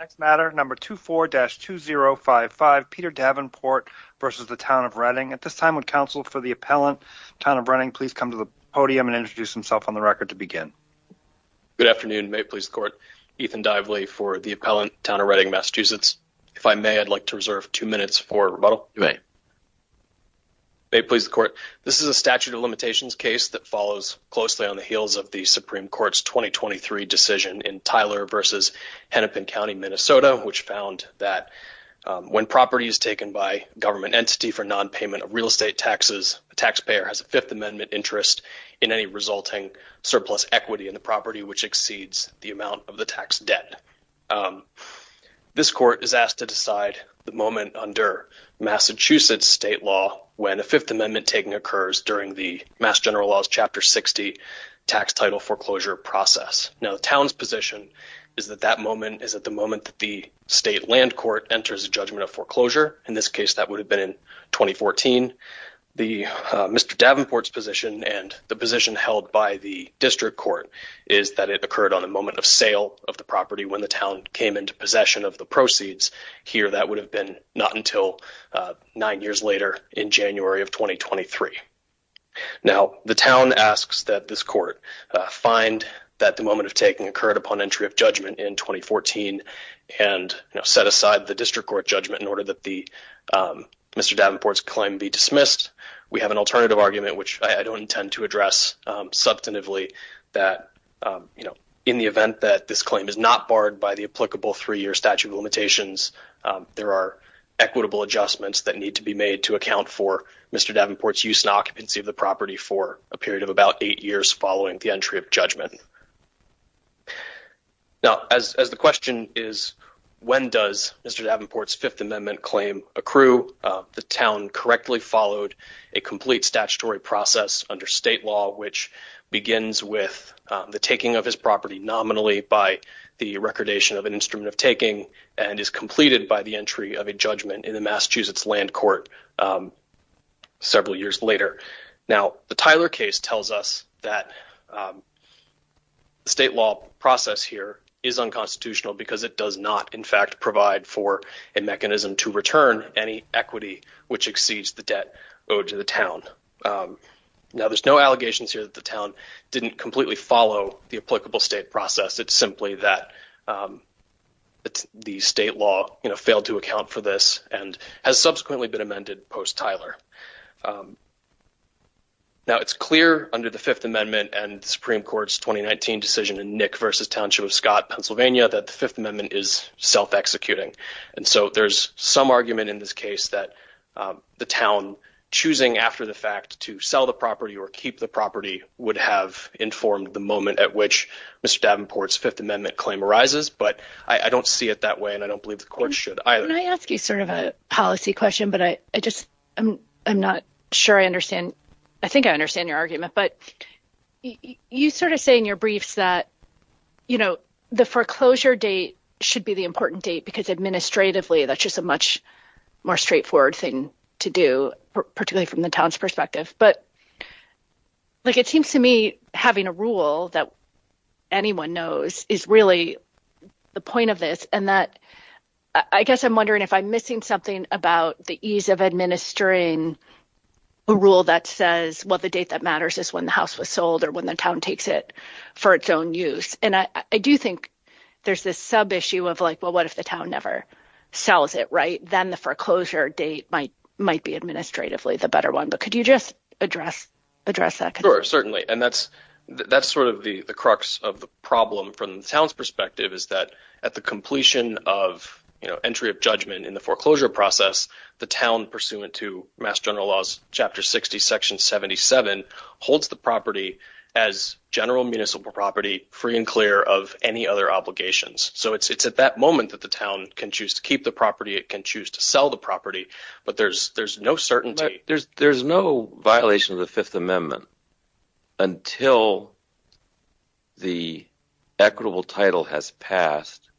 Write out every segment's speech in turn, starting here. Next matter number 24-2055 Peter Davenport versus the Town of Reading. At this time would counsel for the appellant, Town of Reading, please come to the podium and introduce himself on the record to begin. Good afternoon. May it please the court. Ethan Dively for the appellant, Town of Reading, Massachusetts. If I may, I'd like to reserve two minutes for rebuttal. You may. May it please the court. This is a statute of limitations case that follows closely on the heels of the Supreme Court's 2023 decision in Tyler versus Hennepin County, Minnesota, which found that when property is taken by government entity for non-payment of real estate taxes, the taxpayer has a Fifth Amendment interest in any resulting surplus equity in the property which exceeds the amount of the tax debt. This court is asked to decide the moment under Massachusetts state law when a Fifth Amendment taking occurs during the Mass General Laws Chapter 60 tax title foreclosure process. Now the town's position is that that moment is at the moment that the state land court enters a judgment of foreclosure. In this case, that would have been in 2014. Mr. Davenport's position and the position held by the district court is that it occurred on the moment of sale of the property when the town came into possession of the proceeds. Here, that would have been not until nine years later in January of 2023. Now the town asks that this court find that the moment of taking occurred upon entry of judgment in 2014 and set aside the district court judgment in order that the Mr. Davenport's claim be dismissed. We have an alternative argument, which I don't intend to address substantively that, you know, in the event that this claim is not barred by the applicable three-year statute of limitations, there are equitable adjustments that need to be made to account for Mr. Davenport's use and occupancy of the property for a period of about eight years following the entry of judgment. Now, as the question is, when does Mr. Davenport's Fifth Amendment claim accrue? The town correctly followed a complete statutory process under state law, which begins with the taking of his property nominally by the recordation of an instrument of taking and is completed by the entry of a judgment in the Massachusetts Land Court several years later. Now, the Tyler case tells us that the state law process here is unconstitutional because it does not, in fact, provide for a mechanism to return any equity which exceeds the debt owed to the town. Now, there's no allegations here that the town didn't completely follow the applicable state process. It's simply that the state law, you know, failed to account for this and has subsequently been amended post-Tyler. Now, it's clear under the Fifth Amendment and Supreme Court's 2019 decision in Nick v. Township of Scott, Pennsylvania, that the Fifth Amendment is self-executing. And so there's some argument in this case that the town choosing after the fact to sell the property or keep the property would have informed the moment at which Mr. Davenport's Fifth Amendment claim arises. But I don't see it that way, and I don't believe the court should either. When I ask you sort of a policy question, but I just I'm not sure I understand. I think I understand your argument, but you sort of say in your briefs that, you know, the foreclosure date should be the important date because administratively, that's just a much more straightforward thing to do, particularly from the town's perspective. But, like, it seems to me having a rule that anyone knows is really the point of this. And that I guess I'm wondering if I'm missing something about the ease of administering a rule that says, well, the date that matters is when the house was sold or when the town takes it for its own use. And I do think there's this sub issue of like, well, what if the town never sells it? Right. Then the foreclosure date might might be administratively the better one. But could you just address address that? And that's that's sort of the crux of the problem from the town's perspective is that at the completion of entry of judgment in the foreclosure process, the town pursuant to Mass General Laws, Chapter 60, Section 77, holds the property as general municipal property free and clear of any other obligations. So it's it's at that moment that the town can choose to keep the property. It can choose to sell the property. But there's there's no certainty. There's there's no violation of the Fifth Amendment until the equitable title has passed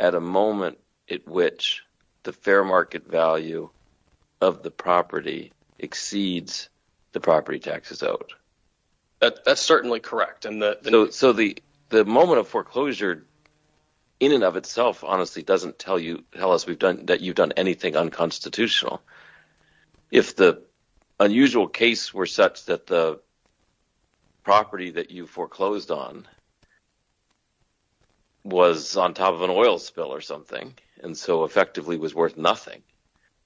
at a moment at which the fair market value of the property exceeds the property taxes out. That's certainly correct. And so the the moment of foreclosure in and of itself honestly doesn't tell you tell us we've done that you've done anything unconstitutional. If the unusual case were such that the property that you foreclosed on was on top of an oil spill or something and so effectively was worth nothing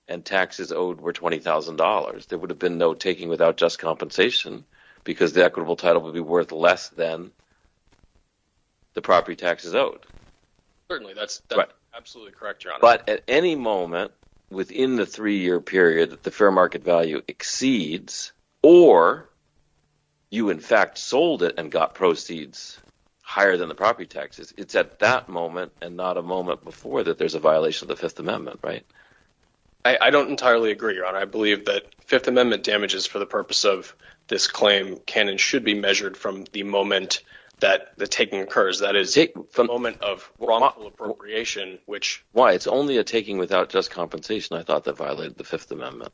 and taxes owed were $20,000, there would have been no taking without just compensation because the equitable title would be worth less than the property taxes owed. Certainly that's absolutely correct. But at any moment within the three year period that the fair market value exceeds or you in fact sold it and got proceeds higher than the property taxes, it's at that moment and not a moment before that there's a violation of the Fifth Amendment, right? I don't entirely agree, Ron. I believe that Fifth Amendment damages for the purpose of this claim can and should be measured from the moment that the taking occurs. That is the moment of wrongful appropriation, which why it's only a taking without just compensation. I thought that violated the Fifth Amendment.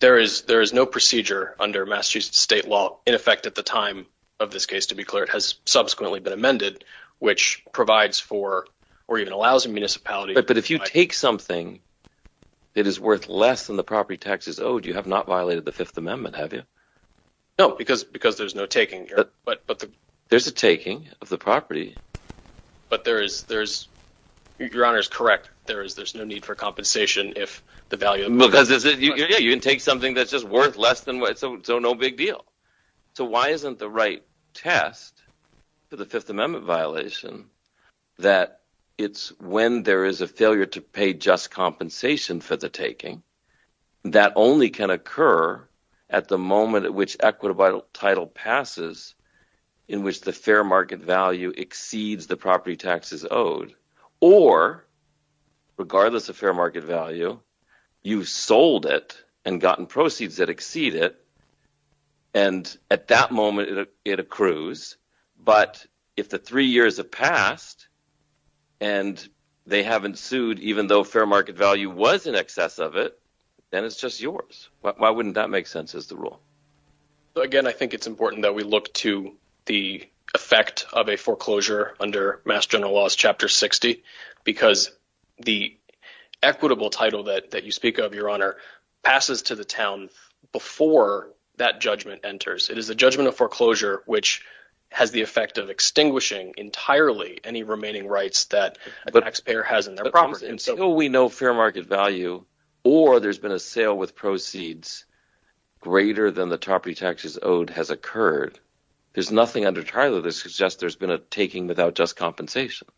There is no procedure under Massachusetts state law in effect at the time of this case, to be clear. It has subsequently been amended, which provides for or even allows a municipality. But if you take something that is worth less than the property taxes owed, you have not violated the Fifth Amendment, have you? No, because there's no taking here. But there's a taking of the property. But there is – your Honor is correct. There's no need for compensation if the value – Because you can take something that's just worth less than – so no big deal. So why isn't the right test for the Fifth Amendment violation that it's when there is a failure to pay just compensation for the taking that only can occur at the moment at which equitable title passes in which the fair market value exceeds the property taxes owed? Or regardless of fair market value, you've sold it and gotten proceeds that exceed it, and at that moment, it accrues. But if the three years have passed and they haven't sued even though fair market value was in excess of it, then it's just yours. Why wouldn't that make sense as the rule? Again, I think it's important that we look to the effect of a foreclosure under Mass General Laws Chapter 60 because the equitable title that you speak of, your Honor, passes to the town before that judgment enters. It is a judgment of foreclosure, which has the effect of extinguishing entirely any remaining rights that a taxpayer has in their property. So until we know fair market value or there's been a sale with proceeds greater than the property taxes owed has occurred, there's nothing under Tyler that suggests there's been a taking without just compensation.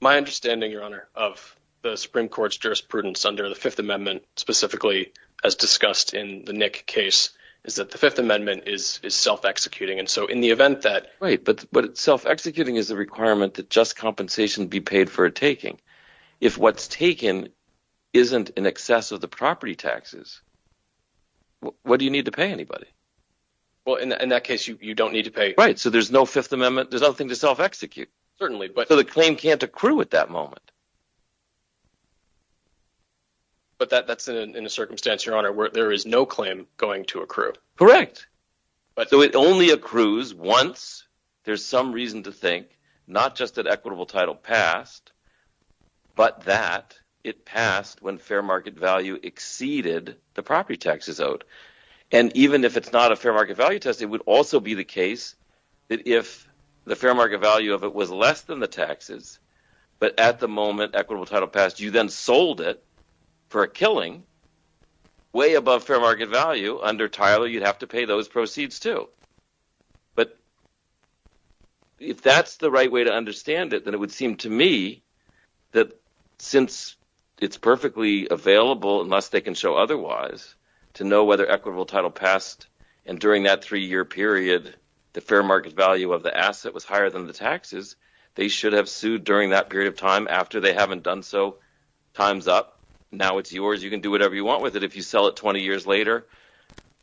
My understanding, Your Honor, of the Supreme Court's jurisprudence under the Fifth Amendment specifically as discussed in the Nick case is that the Fifth Amendment is self-executing. Right, but self-executing is a requirement that just compensation be paid for a taking. If what's taken isn't in excess of the property taxes, what do you need to pay anybody? Well, in that case, you don't need to pay anybody. Right, so there's no Fifth Amendment. There's nothing to self-execute. Certainly. So the claim can't accrue at that moment. But that's in a circumstance, Your Honor, where there is no claim going to accrue. Correct. So it only accrues once. There's some reason to think not just that equitable title passed, but that it passed when fair market value exceeded the property taxes owed. And even if it's not a fair market value test, it would also be the case that if the fair market value of it was less than the taxes, but at the moment equitable title passed, you then sold it for a killing way above fair market value. Under Tyler, you'd have to pay those proceeds too. But if that's the right way to understand it, then it would seem to me that since it's perfectly available, unless they can show otherwise, to know whether equitable title passed. And during that three-year period, the fair market value of the asset was higher than the taxes. They should have sued during that period of time. After they haven't done so, time's up. Now it's yours. You can do whatever you want with it. If you sell it 20 years later,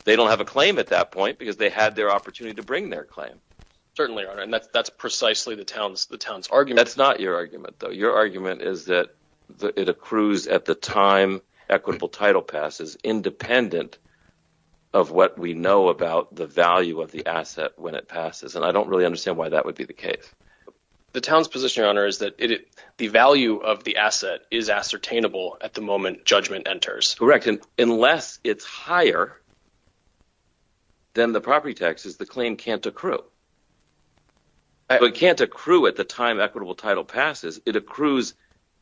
they don't have a claim at that point because they had their opportunity to bring their claim. Certainly, Your Honor. And that's precisely the town's argument. That's not your argument, though. Your argument is that it accrues at the time equitable title passes, independent of what we know about the value of the asset when it passes. And I don't really understand why that would be the case. The town's position, Your Honor, is that the value of the asset is ascertainable at the moment judgment enters. Correct. Unless it's higher than the property taxes, the claim can't accrue. It can't accrue at the time equitable title passes. It accrues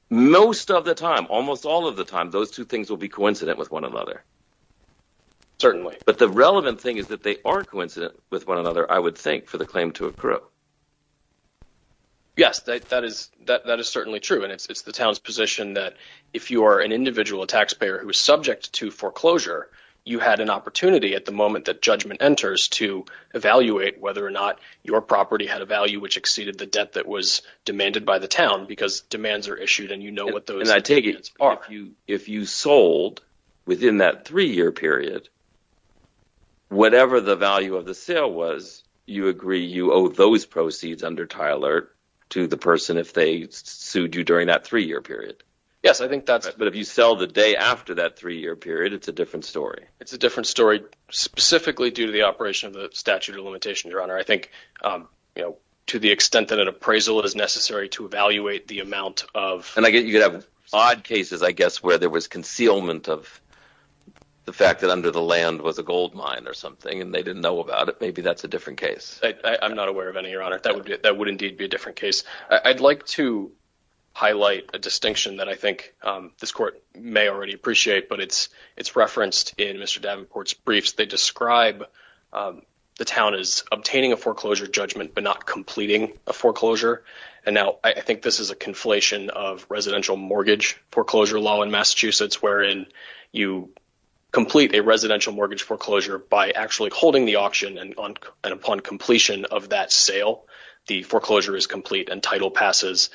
most of the time, almost all of the time. Those two things will be coincident with one another. Certainly. But the relevant thing is that they are coincident with one another, I would think, for the claim to accrue. Yes, that is certainly true. And it's the town's position that if you are an individual taxpayer who is subject to foreclosure, you had an opportunity at the moment that judgment enters to evaluate whether or not your property had a value which exceeded the debt that was demanded by the town because demands are issued and you know what those demands are. If you sold within that three-year period, whatever the value of the sale was, you agree you owe those proceeds under Tiler to the person if they sued you during that three-year period. Yes, I think that's correct. But if you sell the day after that three-year period, it's a different story. It's a different story specifically due to the operation of the statute of limitations, Your Honor. I think, you know, to the extent that an appraisal is necessary to evaluate the amount of… And you have odd cases, I guess, where there was concealment of the fact that under the land was a gold mine or something and they didn't know about it. Maybe that's a different case. I'm not aware of any, Your Honor. That would indeed be a different case. I'd like to highlight a distinction that I think this Court may already appreciate, but it's referenced in Mr. Davenport's briefs. They describe the town as obtaining a foreclosure judgment but not completing a foreclosure. And now I think this is a conflation of residential mortgage foreclosure law in Massachusetts wherein you complete a residential mortgage foreclosure by actually holding the auction. And upon completion of that sale, the foreclosure is complete and title passes.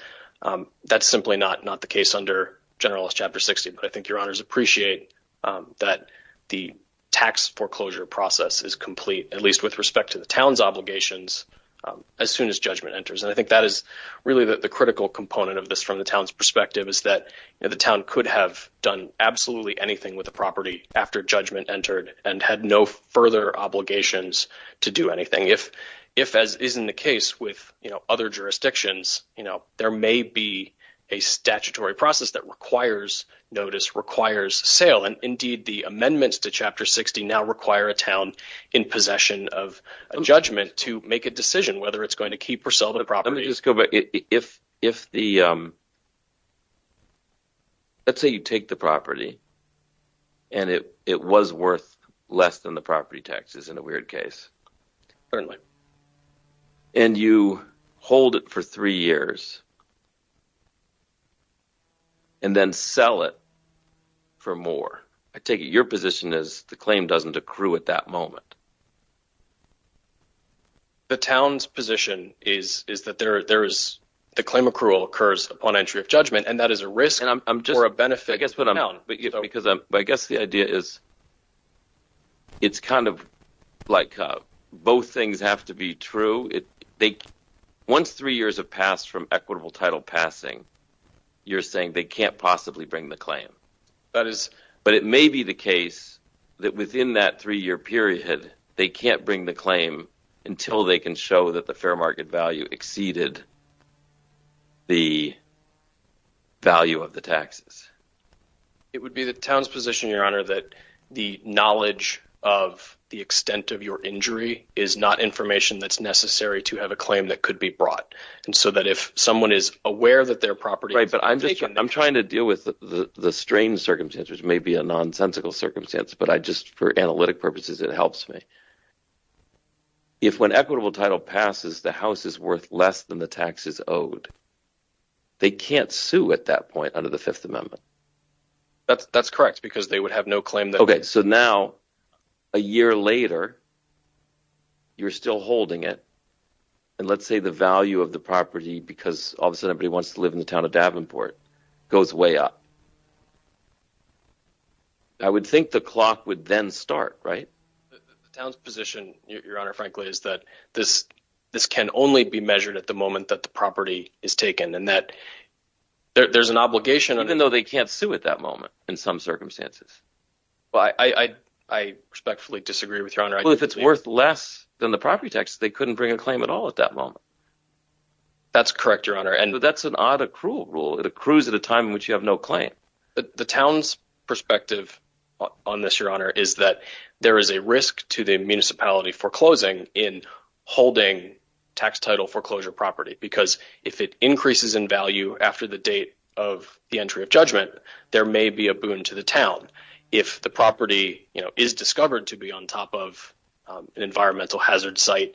That's simply not the case under Generalist Chapter 60. But I think Your Honors appreciate that the tax foreclosure process is complete, at least with respect to the town's obligations, as soon as judgment enters. And I think that is really the critical component of this from the town's perspective is that the town could have done absolutely anything with the property after judgment entered and had no further obligations to do anything. If, as is in the case with other jurisdictions, there may be a statutory process that requires notice, requires sale. Indeed, the amendments to Chapter 60 now require a town in possession of a judgment to make a decision whether it's going to keep or sell the property. Let me just go back. Let's say you take the property and it was worth less than the property taxes in a weird case. And you hold it for three years and then sell it for more. I take it your position is the claim doesn't accrue at that moment. The town's position is that the claim accrual occurs upon entry of judgment, and that is a risk or a benefit for the town. I guess the idea is it's kind of like both things have to be true. Once three years have passed from equitable title passing, you're saying they can't possibly bring the claim. But it may be the case that within that three-year period, they can't bring the claim until they can show that the fair market value exceeded the value of the taxes. It would be the town's position, Your Honor, that the knowledge of the extent of your injury is not information that's necessary to have a claim that could be brought. I'm trying to deal with the strange circumstances, which may be a nonsensical circumstance, but for analytic purposes, it helps me. If when equitable title passes, the house is worth less than the taxes owed, they can't sue at that point under the Fifth Amendment. That's correct because they would have no claim. OK, so now a year later, you're still holding it. And let's say the value of the property, because all of a sudden everybody wants to live in the town of Davenport, goes way up. I would think the clock would then start, right? The town's position, Your Honor, frankly, is that this can only be measured at the moment that the property is taken and that there's an obligation. Even though they can't sue at that moment in some circumstances. I respectfully disagree with Your Honor. If it's worth less than the property tax, they couldn't bring a claim at all at that moment. That's correct, Your Honor. And that's an odd accrual rule. It accrues at a time in which you have no claim. The town's perspective on this, Your Honor, is that there is a risk to the municipality foreclosing in holding tax title foreclosure property. Because if it increases in value after the date of the entry of judgment, there may be a boon to the town. If the property is discovered to be on top of an environmental hazard site,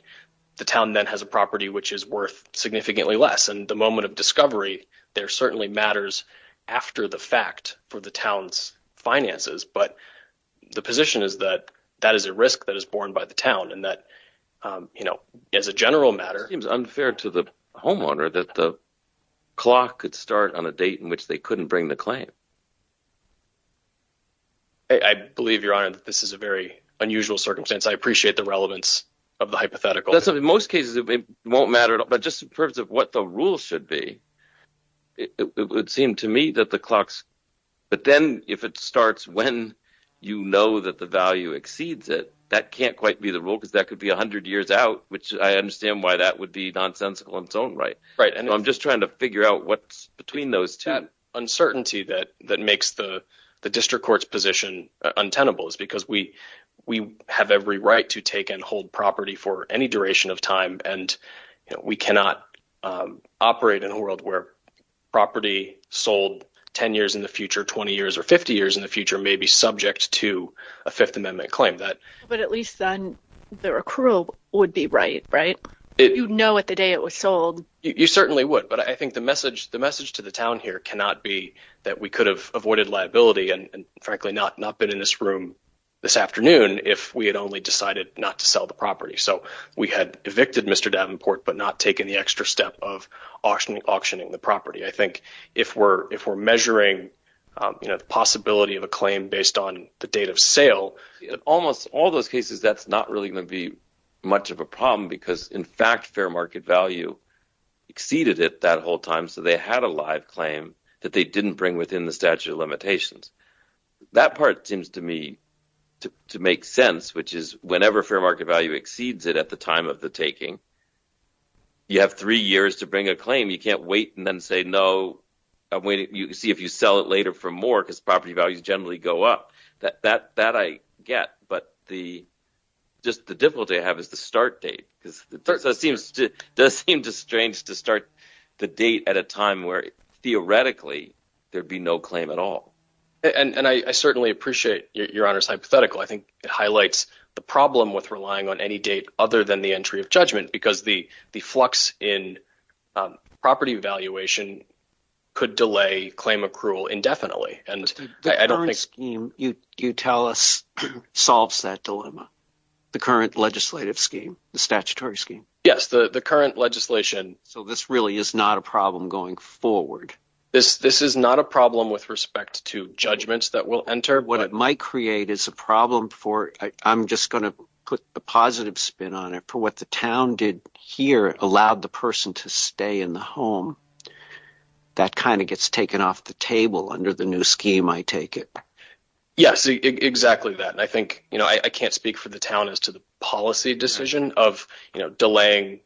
the town then has a property which is worth significantly less. And the moment of discovery there certainly matters after the fact for the town's finances. But the position is that that is a risk that is borne by the town and that, you know, as a general matter. It seems unfair to the homeowner that the clock could start on a date in which they couldn't bring the claim. I believe, Your Honor, that this is a very unusual circumstance. I appreciate the relevance of the hypothetical. In most cases, it won't matter. But just in terms of what the rules should be, it would seem to me that the clocks. But then if it starts when you know that the value exceeds it, that can't quite be the rule because that could be 100 years out, which I understand why that would be nonsensical in its own right. Right. And I'm just trying to figure out what's between those two. that that makes the district court's position untenable is because we we have every right to take and hold property for any duration of time. And we cannot operate in a world where property sold 10 years in the future, 20 years or 50 years in the future may be subject to a Fifth Amendment claim that. But at least then the accrual would be right. Right. You know, at the day it was sold, you certainly would. But I think the message the message to the town here cannot be that we could have avoided liability and frankly not not been in this room this afternoon if we had only decided not to sell the property. So we had evicted Mr. Davenport, but not taken the extra step of auctioning, auctioning the property. I think if we're if we're measuring the possibility of a claim based on the date of sale, almost all those cases, that's not really going to be much of a problem. Because, in fact, fair market value exceeded it that whole time. So they had a live claim that they didn't bring within the statute of limitations. That part seems to me to make sense, which is whenever fair market value exceeds it at the time of the taking. You have three years to bring a claim. You can't wait and then say no. I'm waiting to see if you sell it later for more because property values generally go up that that that I get. But the just the difficulty I have is the start date because it does seem strange to start the date at a time where theoretically there'd be no claim at all. And I certainly appreciate your honor's hypothetical. I think it highlights the problem with relying on any date other than the entry of judgment because the the flux in property valuation could delay claim accrual indefinitely. And I don't think you tell us solves that dilemma. The current legislative scheme, the statutory scheme. Yes. The current legislation. So this really is not a problem going forward. This this is not a problem with respect to judgments that will enter. What it might create is a problem for I'm just going to put a positive spin on it for what the town did here allowed the person to stay in the home. That kind of gets taken off the table under the new scheme. I take it. Yes. Exactly that. I think, you know, I can't speak for the town as to the policy decision of delaying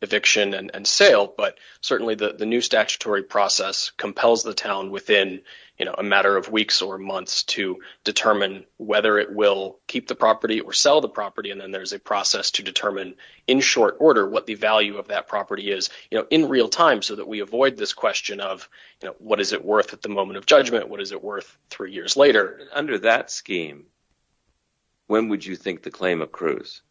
eviction and sale. But certainly the new statutory process compels the town within a matter of weeks or months to determine whether it will keep the property or sell the property. And then there's a process to determine in short order what the value of that property is in real time so that we avoid this question of what is it worth at the moment of judgment? What is it worth three years later under that scheme? When would you think the claim accrues?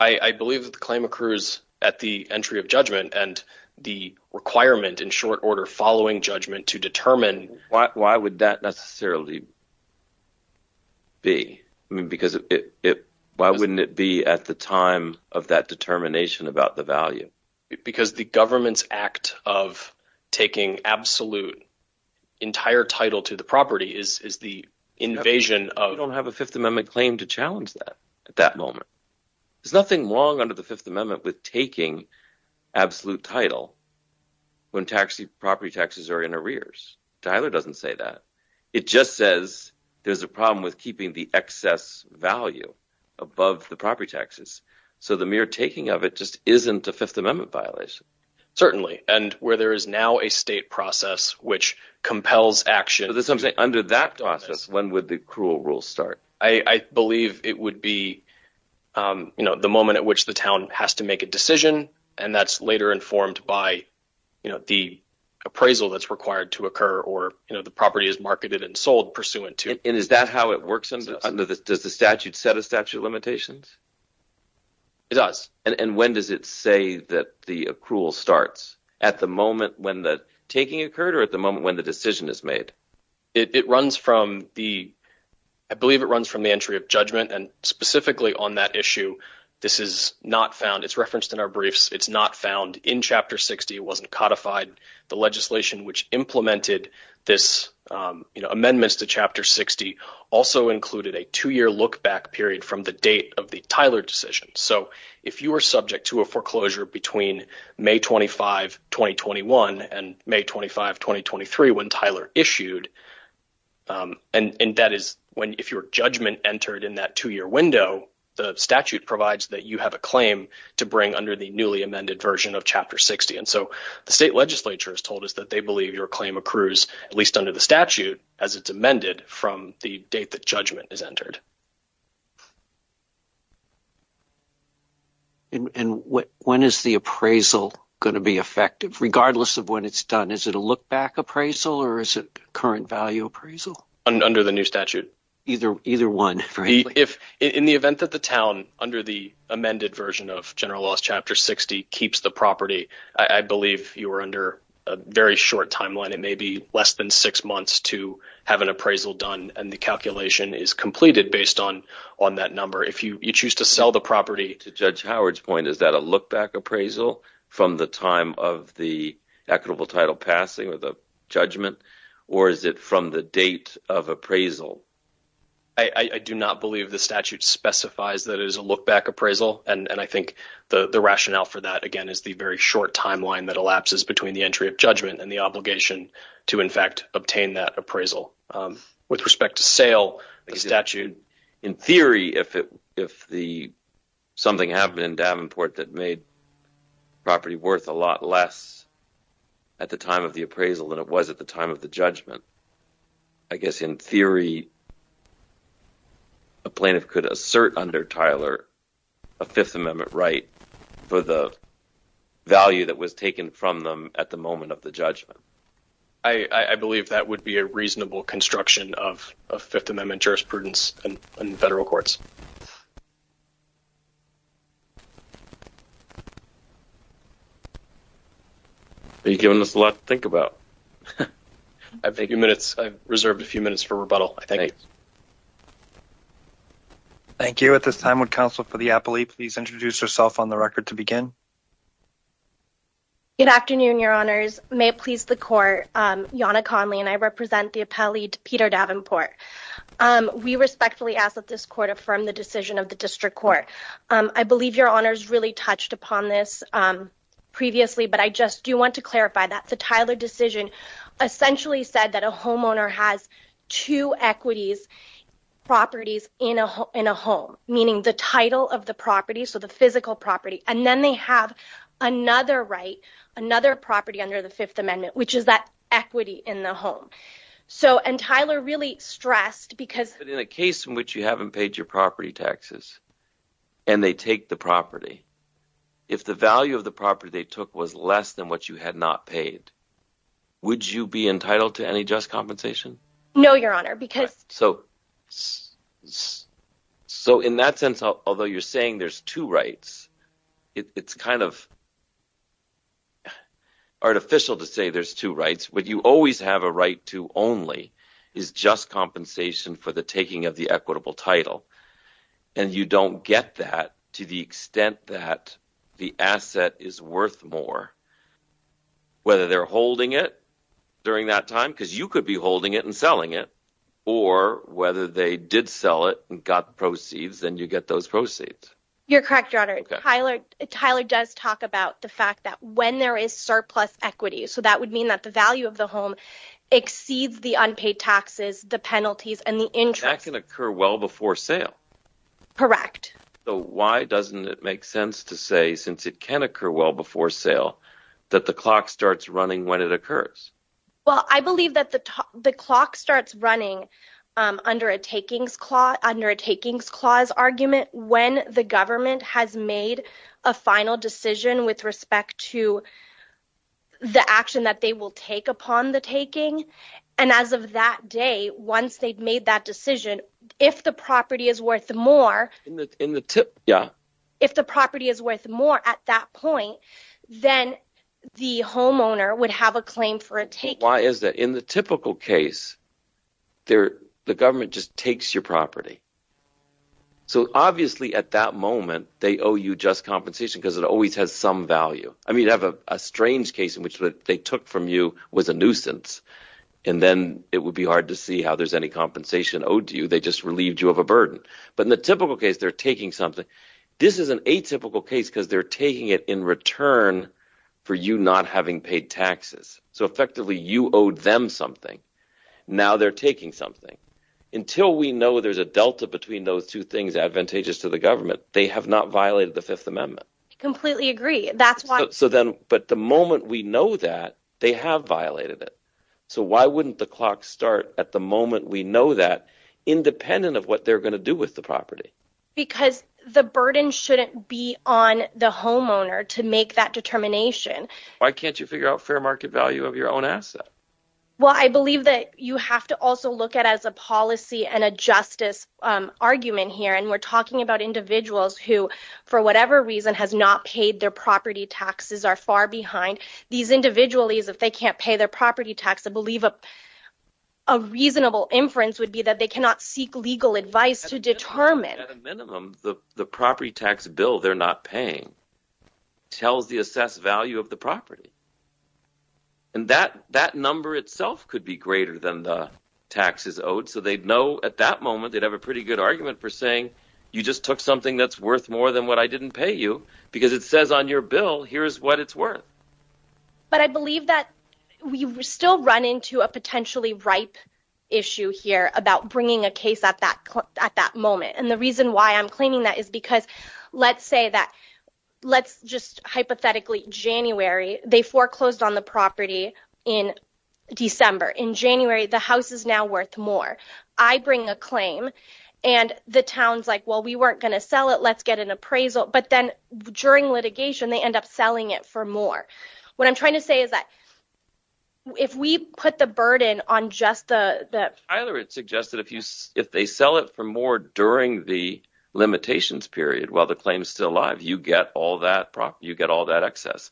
I believe that the claim accrues at the entry of judgment and the requirement in short order following judgment to determine why would that necessarily. B, I mean, because it why wouldn't it be at the time of that determination about the value because the government's act of taking absolute entire title to the property is the invasion of don't have a Fifth Amendment claim to challenge that at that moment. There's nothing wrong under the Fifth Amendment with taking absolute title when taxi property taxes are in arrears. Tyler doesn't say that. It just says there's a problem with keeping the excess value above the property taxes. So the mere taking of it just isn't a Fifth Amendment violation. Certainly. And where there is now a state process which compels action. Under that process, when would the cruel rule start? I believe it would be the moment at which the town has to make a decision. And that's later informed by the appraisal that's required to occur or the property is marketed and sold pursuant to. And is that how it works under this? Does the statute set a statute of limitations? It does. And when does it say that the accrual starts at the moment when the taking occurred or at the moment when the decision is made? It runs from the I believe it runs from the entry of judgment and specifically on that issue. This is not found. It's referenced in our briefs. It's not found in Chapter 60. It wasn't codified. The legislation which implemented this amendments to Chapter 60 also included a two year look back period from the date of the Tyler decision. So if you were subject to a foreclosure between May 25, 2021 and May 25, 2023, when Tyler issued. And that is when if your judgment entered in that two year window, the statute provides that you have a claim to bring under the newly amended version of Chapter 60. And so the state legislature is told us that they believe your claim accrues, at least under the statute, as it's amended from the date that judgment is entered. And when is the appraisal going to be effective, regardless of when it's done? Is it a look back appraisal or is it current value appraisal under the new statute? If in the event that the town under the amended version of general laws, Chapter 60 keeps the property, I believe you are under a very short timeline. It may be less than six months to have an appraisal done. And the calculation is completed based on on that number. If you choose to sell the property to Judge Howard's point, is that a look back appraisal from the time of the equitable title passing or the judgment? Or is it from the date of appraisal? I do not believe the statute specifies that it is a look back appraisal. And I think the rationale for that, again, is the very short timeline that elapses between the entry of judgment and the obligation to, in fact, obtain that appraisal. With respect to sale statute, in theory, if it if the something happened in Davenport that made property worth a lot less at the time of the appraisal than it was at the time of the judgment. I guess, in theory. A plaintiff could assert under Tyler, a Fifth Amendment right for the value that was taken from them at the moment of the judgment. I believe that would be a reasonable construction of a Fifth Amendment jurisprudence and federal courts. Are you giving us a lot to think about? I think a few minutes. I reserved a few minutes for rebuttal. Thank you. At this time, would counsel for the appellee please introduce herself on the record to begin? Good afternoon. Your honors may please the court. Yana Conley and I represent the appellee to Peter Davenport. We respectfully ask that this court affirm the decision of the district court. I believe your honors really touched upon this previously, but I just do want to clarify that the Tyler decision essentially said that a homeowner has two equities properties in a in a home, meaning the title of the property. So the physical property and then they have another right, another property under the Fifth Amendment, which is that equity in the home. So and Tyler really stressed because in a case in which you haven't paid your property taxes and they take the property. If the value of the property they took was less than what you had not paid, would you be entitled to any just compensation? No, your honor, because so. So in that sense, although you're saying there's two rights, it's kind of. Artificial to say there's two rights, but you always have a right to only is just compensation for the taking of the equitable title and you don't get that to the extent that the asset is worth more. Whether they're holding it during that time because you could be holding it and selling it or whether they did sell it and got proceeds, then you get those proceeds. You're correct, your honor. Tyler. Tyler does talk about the fact that when there is surplus equity. So that would mean that the value of the home exceeds the unpaid taxes, the penalties and the interest can occur well before sale. Correct. So why doesn't it make sense to say since it can occur well before sale, that the clock starts running when it occurs? Well, I believe that the clock starts running under a takings clause under a takings clause argument when the government has made a final decision with respect to. The action that they will take upon the taking, and as of that day, once they've made that decision, if the property is worth more in the tip, if the property is worth more at that point, then the homeowner would have a claim for a take. Why is that? In the typical case, the government just takes your property. So obviously at that moment, they owe you just compensation because it always has some value. I mean you have a strange case in which what they took from you was a nuisance and then it would be hard to see how there's any compensation owed to you. They just relieved you of a burden, but in the typical case, they're taking something. This is an atypical case because they're taking it in return for you not having paid taxes. So effectively, you owed them something. Now they're taking something. Until we know there's a delta between those two things advantageous to the government, they have not violated the Fifth Amendment. I completely agree. That's why… But the moment we know that, they have violated it. So why wouldn't the clock start at the moment we know that, independent of what they're going to do with the property? Because the burden shouldn't be on the homeowner to make that determination. Why can't you figure out fair market value of your own asset? Well, I believe that you have to also look at it as a policy and a justice argument here. And we're talking about individuals who, for whatever reason, has not paid their property taxes, are far behind. These individuals, if they can't pay their property tax, I believe a reasonable inference would be that they cannot seek legal advice to determine. At a minimum, the property tax bill they're not paying tells the assessed value of the property. And that number itself could be greater than the taxes owed. So they'd know at that moment, they'd have a pretty good argument for saying, you just took something that's worth more than what I didn't pay you because it says on your bill, here's what it's worth. But I believe that we still run into a potentially ripe issue here about bringing a case at that moment. And the reason why I'm claiming that is because let's say that let's just hypothetically, January, they foreclosed on the property in December. In January, the house is now worth more. I bring a claim and the town's like, well, we weren't going to sell it. Let's get an appraisal. But then during litigation, they end up selling it for more. What I'm trying to say is that if we put the burden on just that, I would suggest that if they sell it for more during the limitations period, while the claim is still alive, you get all that excess.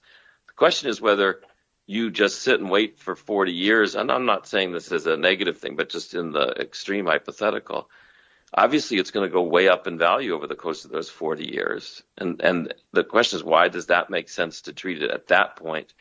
The question is whether you just sit and wait for 40 years. And I'm not saying this is a negative thing, but just in the extreme hypothetical, obviously, it's going to go way up in value over the course of those 40 years. And the question is, why does that make sense to treat it at that point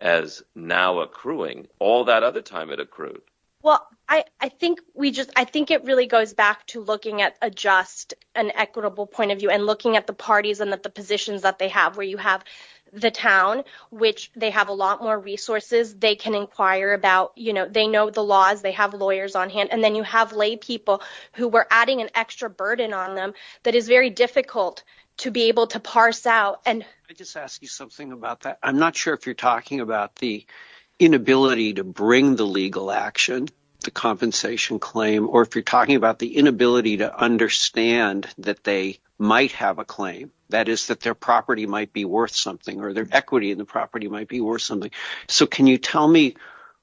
as now accruing all that other time it accrued? Well, I think we just I think it really goes back to looking at a just and equitable point of view and looking at the parties and the positions that they have, where you have the town, which they have a lot more resources they can inquire about. You know, they know the laws. They have lawyers on hand. And then you have lay people who were adding an extra burden on them that is very difficult to be able to parse out. And I just ask you something about that. I'm not sure if you're talking about the inability to bring the legal action to compensation claim, or if you're talking about the inability to understand that they might have a claim, that is that their property might be worth something or their equity in the property might be worth something. So can you tell me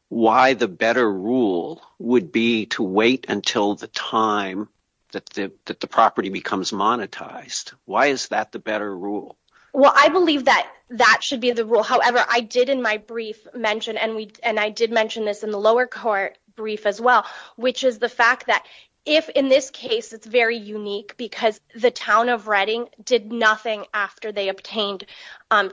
why the better rule would be to wait until the time that the property becomes monetized? Why is that the better rule? Well, I believe that that should be the rule. However, I did in my brief mention and I did mention this in the lower court brief as well, which is the fact that if in this case, it's very unique because the town of Reading did nothing after they obtained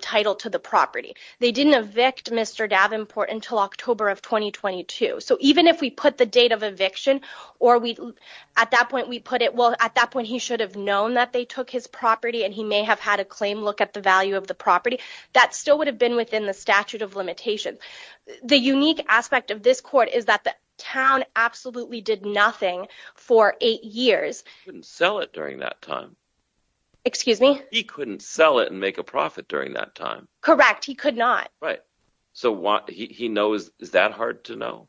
title to the property. They didn't evict Mr. Davenport until October of 2022. So even if we put the date of eviction or we at that point, we put it. Well, at that point, he should have known that they took his property and he may have had a claim. Look at the value of the property that still would have been within the statute of limitation. The unique aspect of this court is that the town absolutely did nothing for eight years. Couldn't sell it during that time. Excuse me. He couldn't sell it and make a profit during that time. Correct. He could not. Right. So what he knows, is that hard to know?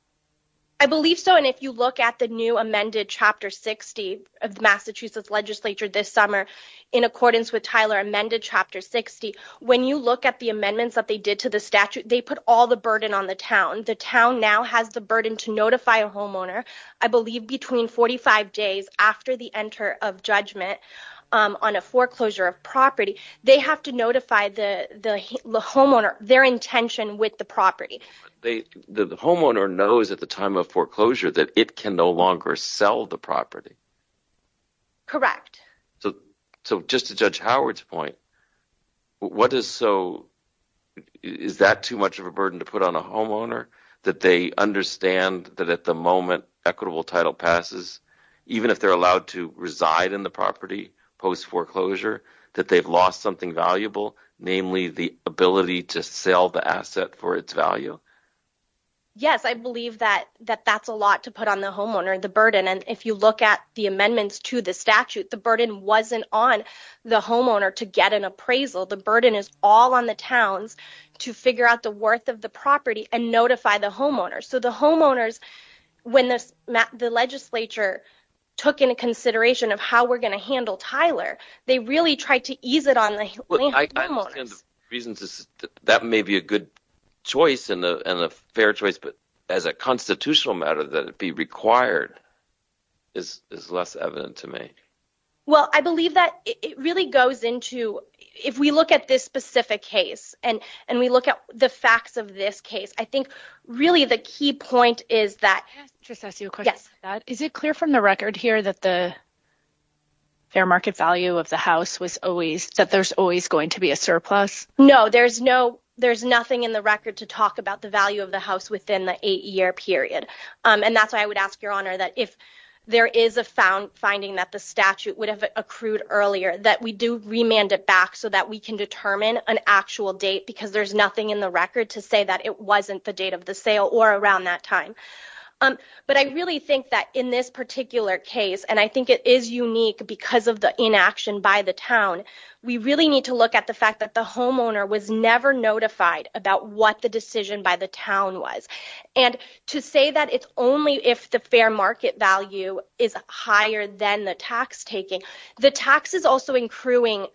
I believe so. And if you look at the new amended Chapter 60 of Massachusetts legislature this summer, in accordance with Tyler amended Chapter 60. When you look at the amendments that they did to the statute, they put all the burden on the town. The town now has the burden to notify a homeowner, I believe, between 45 days after the enter of judgment on a foreclosure of property. They have to notify the homeowner their intention with the property. The homeowner knows at the time of foreclosure that it can no longer sell the property. Correct. So just to Judge Howard's point, what is so, is that too much of a burden to put on a homeowner? That they understand that at the moment equitable title passes, even if they're allowed to reside in the property post foreclosure, that they've lost something valuable, namely the ability to sell the asset for its value? Yes, I believe that that's a lot to put on the homeowner, the burden. And if you look at the amendments to the statute, the burden wasn't on the homeowner to get an appraisal. The burden is all on the towns to figure out the worth of the property and notify the homeowners. So the homeowners, when the legislature took into consideration of how we're going to handle Tyler, they really tried to ease it on the homeowners. I understand the reasons. That may be a good choice and a fair choice, but as a constitutional matter, that it be required is less evident to me. Well, I believe that it really goes into, if we look at this specific case and we look at the facts of this case, I think really the key point is that. Can I just ask you a question? Is it clear from the record here that the fair market value of the house was always, that there's always going to be a surplus? No, there's no, there's nothing in the record to talk about the value of the house within the eight year period. And that's why I would ask your honor that if there is a found finding that the statute would have accrued earlier, that we do remand it back so that we can determine an actual date. Because there's nothing in the record to say that it wasn't the date of the sale or around that time. But I really think that in this particular case, and I think it is unique because of the inaction by the town. We really need to look at the fact that the homeowner was never notified about what the decision by the town was. And to say that it's only if the fair market value is higher than the tax taking, the tax is also accruing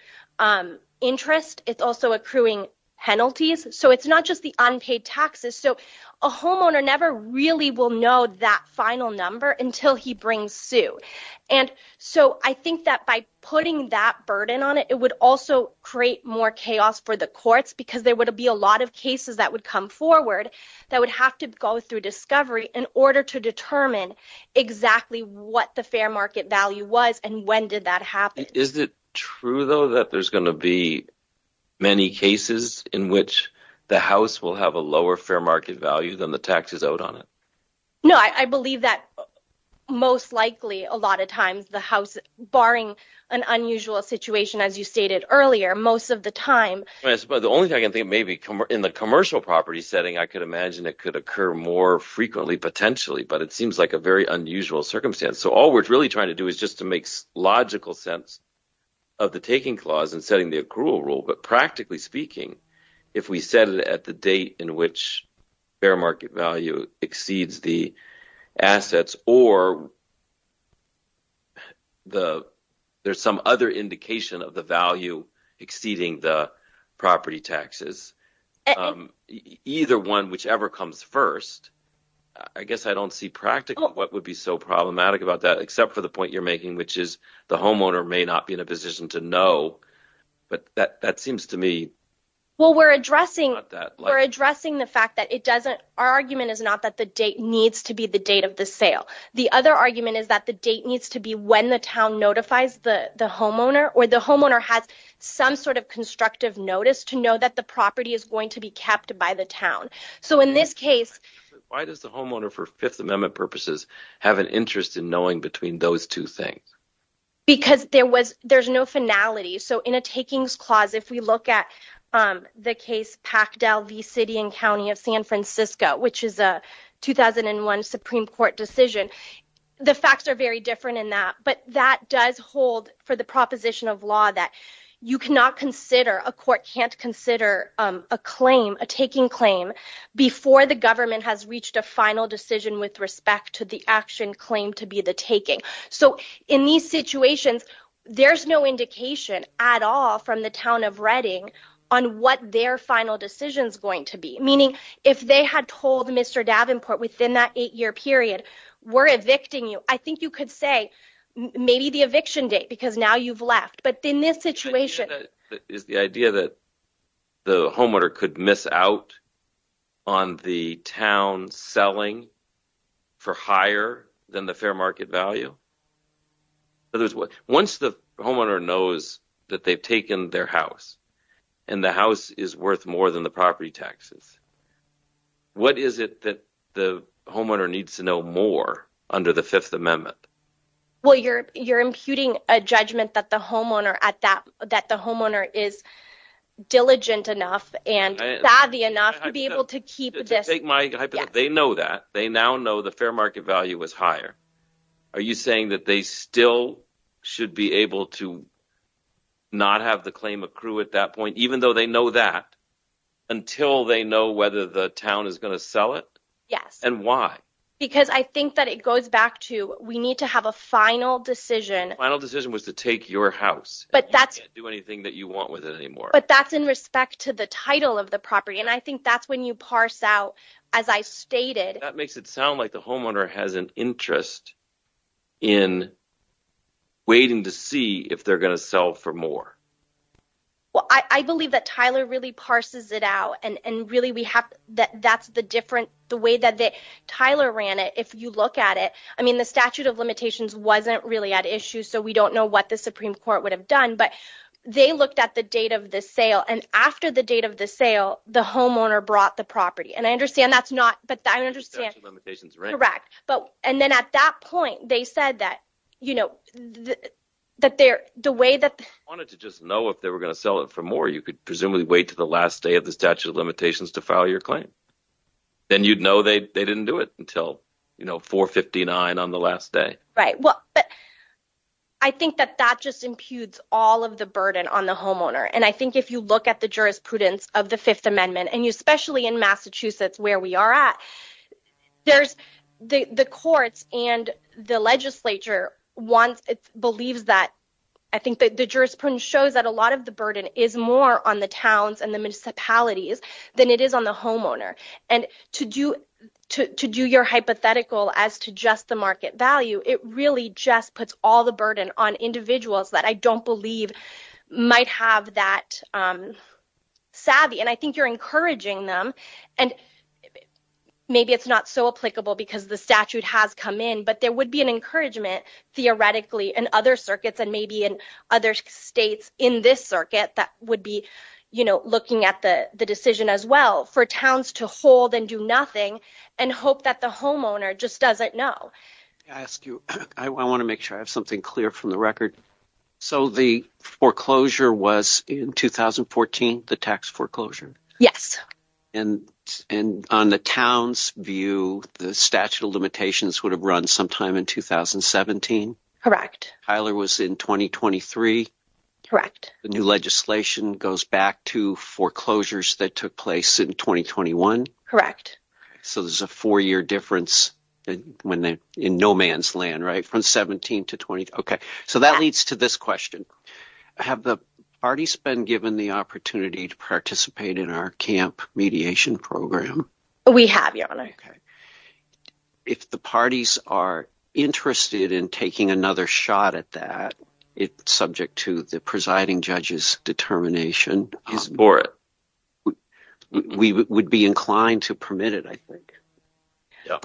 interest. It's also accruing penalties. So it's not just the unpaid taxes. So a homeowner never really will know that final number until he brings suit. And so I think that by putting that burden on it, it would also create more chaos for the courts because there would be a lot of cases that would come forward that would have to go through discovery in order to determine exactly what the fair market value was. And when did that happen? Is it true, though, that there's going to be many cases in which the house will have a lower fair market value than the taxes out on it? No, I believe that most likely a lot of times the house, barring an unusual situation, as you stated earlier, most of the time. But the only thing I can think maybe in the commercial property setting, I could imagine it could occur more frequently potentially. But it seems like a very unusual circumstance. So all we're really trying to do is just to make logical sense of the taking clause and setting the accrual rule. But practically speaking, if we set it at the date in which fair market value exceeds the assets or there's some other indication of the value exceeding the property taxes, either one, whichever comes first, I guess I don't see practically what would be so problematic about that except for the point you're making, which is the homeowner may not be in a position to know. But that seems to me… Well, we're addressing the fact that our argument is not that the date needs to be the date of the sale. The other argument is that the date needs to be when the town notifies the homeowner or the homeowner has some sort of constructive notice to know that the property is going to be kept by the town. So in this case… Why does the homeowner, for Fifth Amendment purposes, have an interest in knowing between those two things? Because there's no finality. So in a takings clause, if we look at the case Packdale v. City and County of San Francisco, which is a 2001 Supreme Court decision, the facts are very different in that. But that does hold for the proposition of law that you cannot consider, a court can't consider a claim, a taking claim, before the government has reached a final decision with respect to the action claimed to be the taking. So in these situations, there's no indication at all from the Town of Reading on what their final decision is going to be. Meaning, if they had told Mr. Davenport within that eight-year period, we're evicting you, I think you could say, maybe the eviction date, because now you've left. Is the idea that the homeowner could miss out on the town selling for higher than the fair market value? Once the homeowner knows that they've taken their house, and the house is worth more than the property taxes, what is it that the homeowner needs to know more under the Fifth Amendment? Well, you're imputing a judgment that the homeowner is diligent enough and savvy enough to be able to keep this. They know that. They now know the fair market value is higher. Are you saying that they still should be able to not have the claim accrue at that point, even though they know that, until they know whether the town is going to sell it? Yes. And why? Because I think that it goes back to, we need to have a final decision. The final decision was to take your house. But that's... You can't do anything that you want with it anymore. But that's in respect to the title of the property, and I think that's when you parse out, as I stated... That makes it sound like the homeowner has an interest in waiting to see if they're going to sell for more. Well, I believe that Tyler really parses it out, and really, that's the way that Tyler ran it, if you look at it. I mean, the statute of limitations wasn't really at issue, so we don't know what the Supreme Court would have done. But they looked at the date of the sale, and after the date of the sale, the homeowner brought the property. And I understand that's not... The statute of limitations, right? Correct. And then at that point, they said that the way that... They wanted to just know if they were going to sell it for more. You could presumably wait to the last day of the statute of limitations to file your claim. Then you'd know they didn't do it until 4-59 on the last day. Right. But I think that that just imputes all of the burden on the homeowner. And I think if you look at the jurisprudence of the Fifth Amendment, and especially in Massachusetts, where we are at, the courts and the legislature believes that... I think that the jurisprudence shows that a lot of the burden is more on the towns and the municipalities than it is on the homeowner. And to do your hypothetical as to just the market value, it really just puts all the burden on individuals that I don't believe might have that savvy. And I think you're encouraging them. And maybe it's not so applicable because the statute has come in, but there would be an encouragement, theoretically, in other circuits, and maybe in other states in this circuit that would be looking at the decision as well. For towns to hold and do nothing and hope that the homeowner just doesn't know. I want to make sure I have something clear from the record. So the foreclosure was in 2014, the tax foreclosure? Yes. And on the town's view, the statute of limitations would have run sometime in 2017? Correct. Tyler was in 2023? Correct. The new legislation goes back to foreclosures that took place in 2021? Correct. So there's a four-year difference in no man's land, right, from 17 to 20? So that leads to this question. Have the parties been given the opportunity to participate in our camp mediation program? We have, Your Honor. If the parties are interested in taking another shot at that, it's subject to the presiding judge's determination. He's for it. We would be inclined to permit it, I think. Yeah.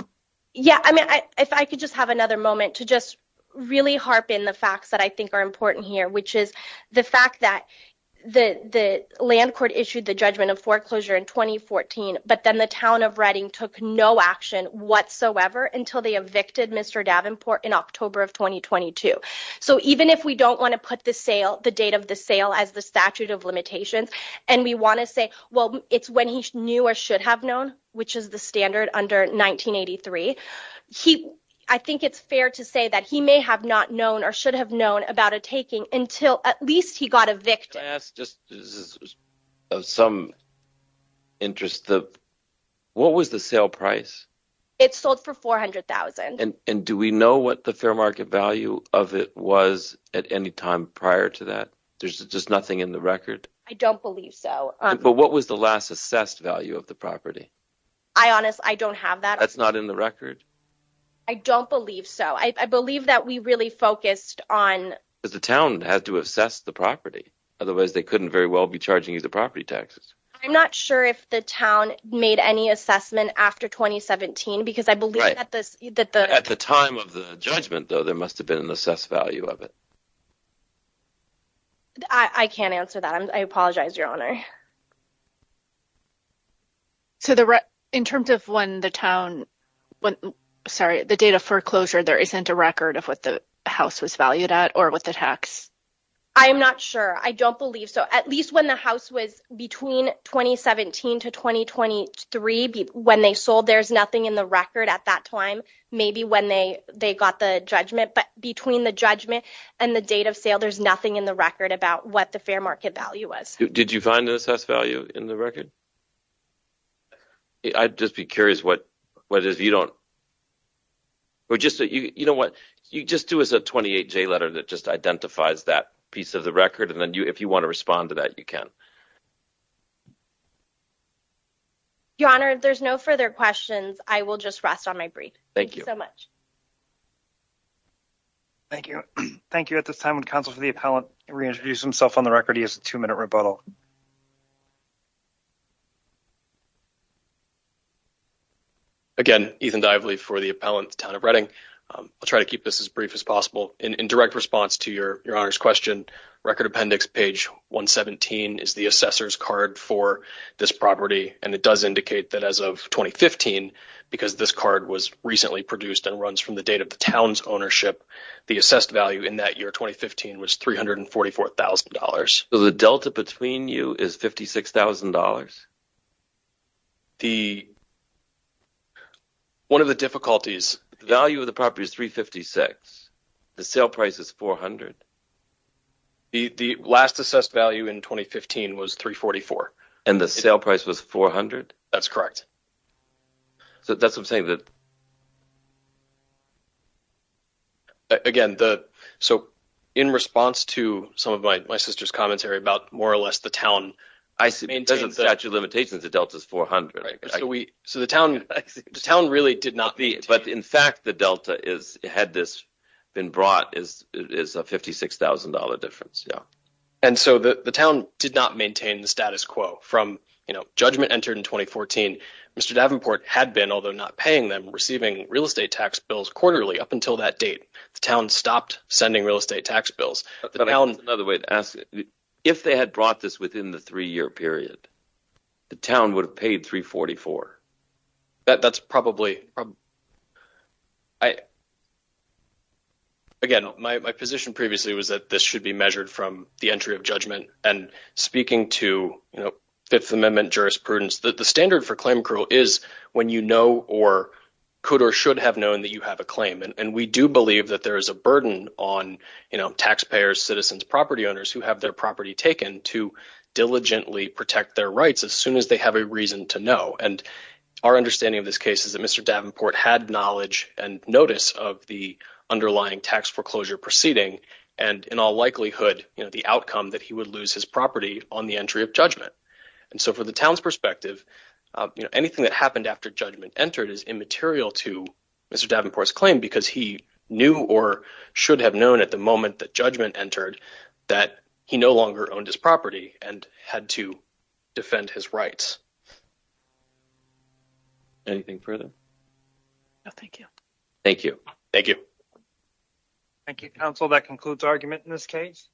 Yeah, I mean, if I could just have another moment to just really harpen the facts that I think are important here, which is the fact that the land court issued the judgment of foreclosure in 2014, but then the town of Reading took no action whatsoever until they evicted Mr. Davenport in October of 2022. So even if we don't want to put the sale, the date of the sale, as the statute of limitations, and we want to say, well, it's when he knew or should have known, which is the standard under 1983, I think it's fair to say that he may have not known or should have known about a taking until at least he got evicted. Can I ask, just of some interest, what was the sale price? It sold for $400,000. And do we know what the fair market value of it was at any time prior to that? There's just nothing in the record? I don't believe so. But what was the last assessed value of the property? I honest, I don't have that. That's not in the record. I don't believe so. I believe that we really focused on the town had to assess the property. Otherwise, they couldn't very well be charging you the property taxes. I'm not sure if the town made any assessment after 2017 because I believe that at the time of the judgment, though, there must have been an assessed value of it. I can't answer that. I apologize, Your Honor. So, in terms of when the town, sorry, the date of foreclosure, there isn't a record of what the house was valued at or what the tax? I'm not sure. I don't believe so. At least when the house was between 2017 to 2023, when they sold, there's nothing in the record at that time. Maybe when they got the judgment. But between the judgment and the date of sale, there's nothing in the record about what the fair market value was. Did you find an assessed value in the record? I'd just be curious what if you don't. You know what? You just do as a 28-J letter that just identifies that piece of the record. And then if you want to respond to that, you can. Your Honor, there's no further questions. I will just rest on my brief. Thank you so much. Thank you. Thank you at this time. Counsel for the appellant reintroduced himself on the record. He has a two-minute rebuttal. Again, Ethan Dively for the appellant, Town of Reading. I'll try to keep this as brief as possible. In direct response to Your Honor's question, Record Appendix page 117 is the assessor's card for this property. And it does indicate that as of 2015, because this card was recently produced and runs from the date of the town's ownership, the assessed value in that year, 2015, was $344,000. So the delta between you is $56,000? The – one of the difficulties – The value of the property is $356,000. The sale price is $400,000. The last assessed value in 2015 was $344,000. And the sale price was $400,000? That's correct. So that's what I'm saying, that – Again, the – so in response to some of my sister's commentary about more or less the town – It doesn't statute limitations that delta is $400,000. So the town really did not meet. But in fact, the delta is – had this been brought, it is a $56,000 difference, yeah. And so the town did not maintain the status quo. From – judgment entered in 2014. Mr. Davenport had been, although not paying them, receiving real estate tax bills quarterly up until that date. The town stopped sending real estate tax bills. That's another way to ask. If they had brought this within the three-year period, the town would have paid $344,000. That's probably – Again, my position previously was that this should be measured from the entry of judgment. And speaking to Fifth Amendment jurisprudence, the standard for claim accrual is when you know or could or should have known that you have a claim. And we do believe that there is a burden on taxpayers, citizens, property owners who have their property taken to diligently protect their rights as soon as they have a reason to know. And our understanding of this case is that Mr. Davenport had knowledge and notice of the underlying tax foreclosure proceeding. And in all likelihood, the outcome that he would lose his property on the entry of judgment. And so from the town's perspective, anything that happened after judgment entered is immaterial to Mr. Davenport's claim. Because he knew or should have known at the moment that judgment entered that he no longer owned his property and had to defend his rights. Anything further? No, thank you. Thank you. Thank you. Thank you, counsel. That concludes argument in this case.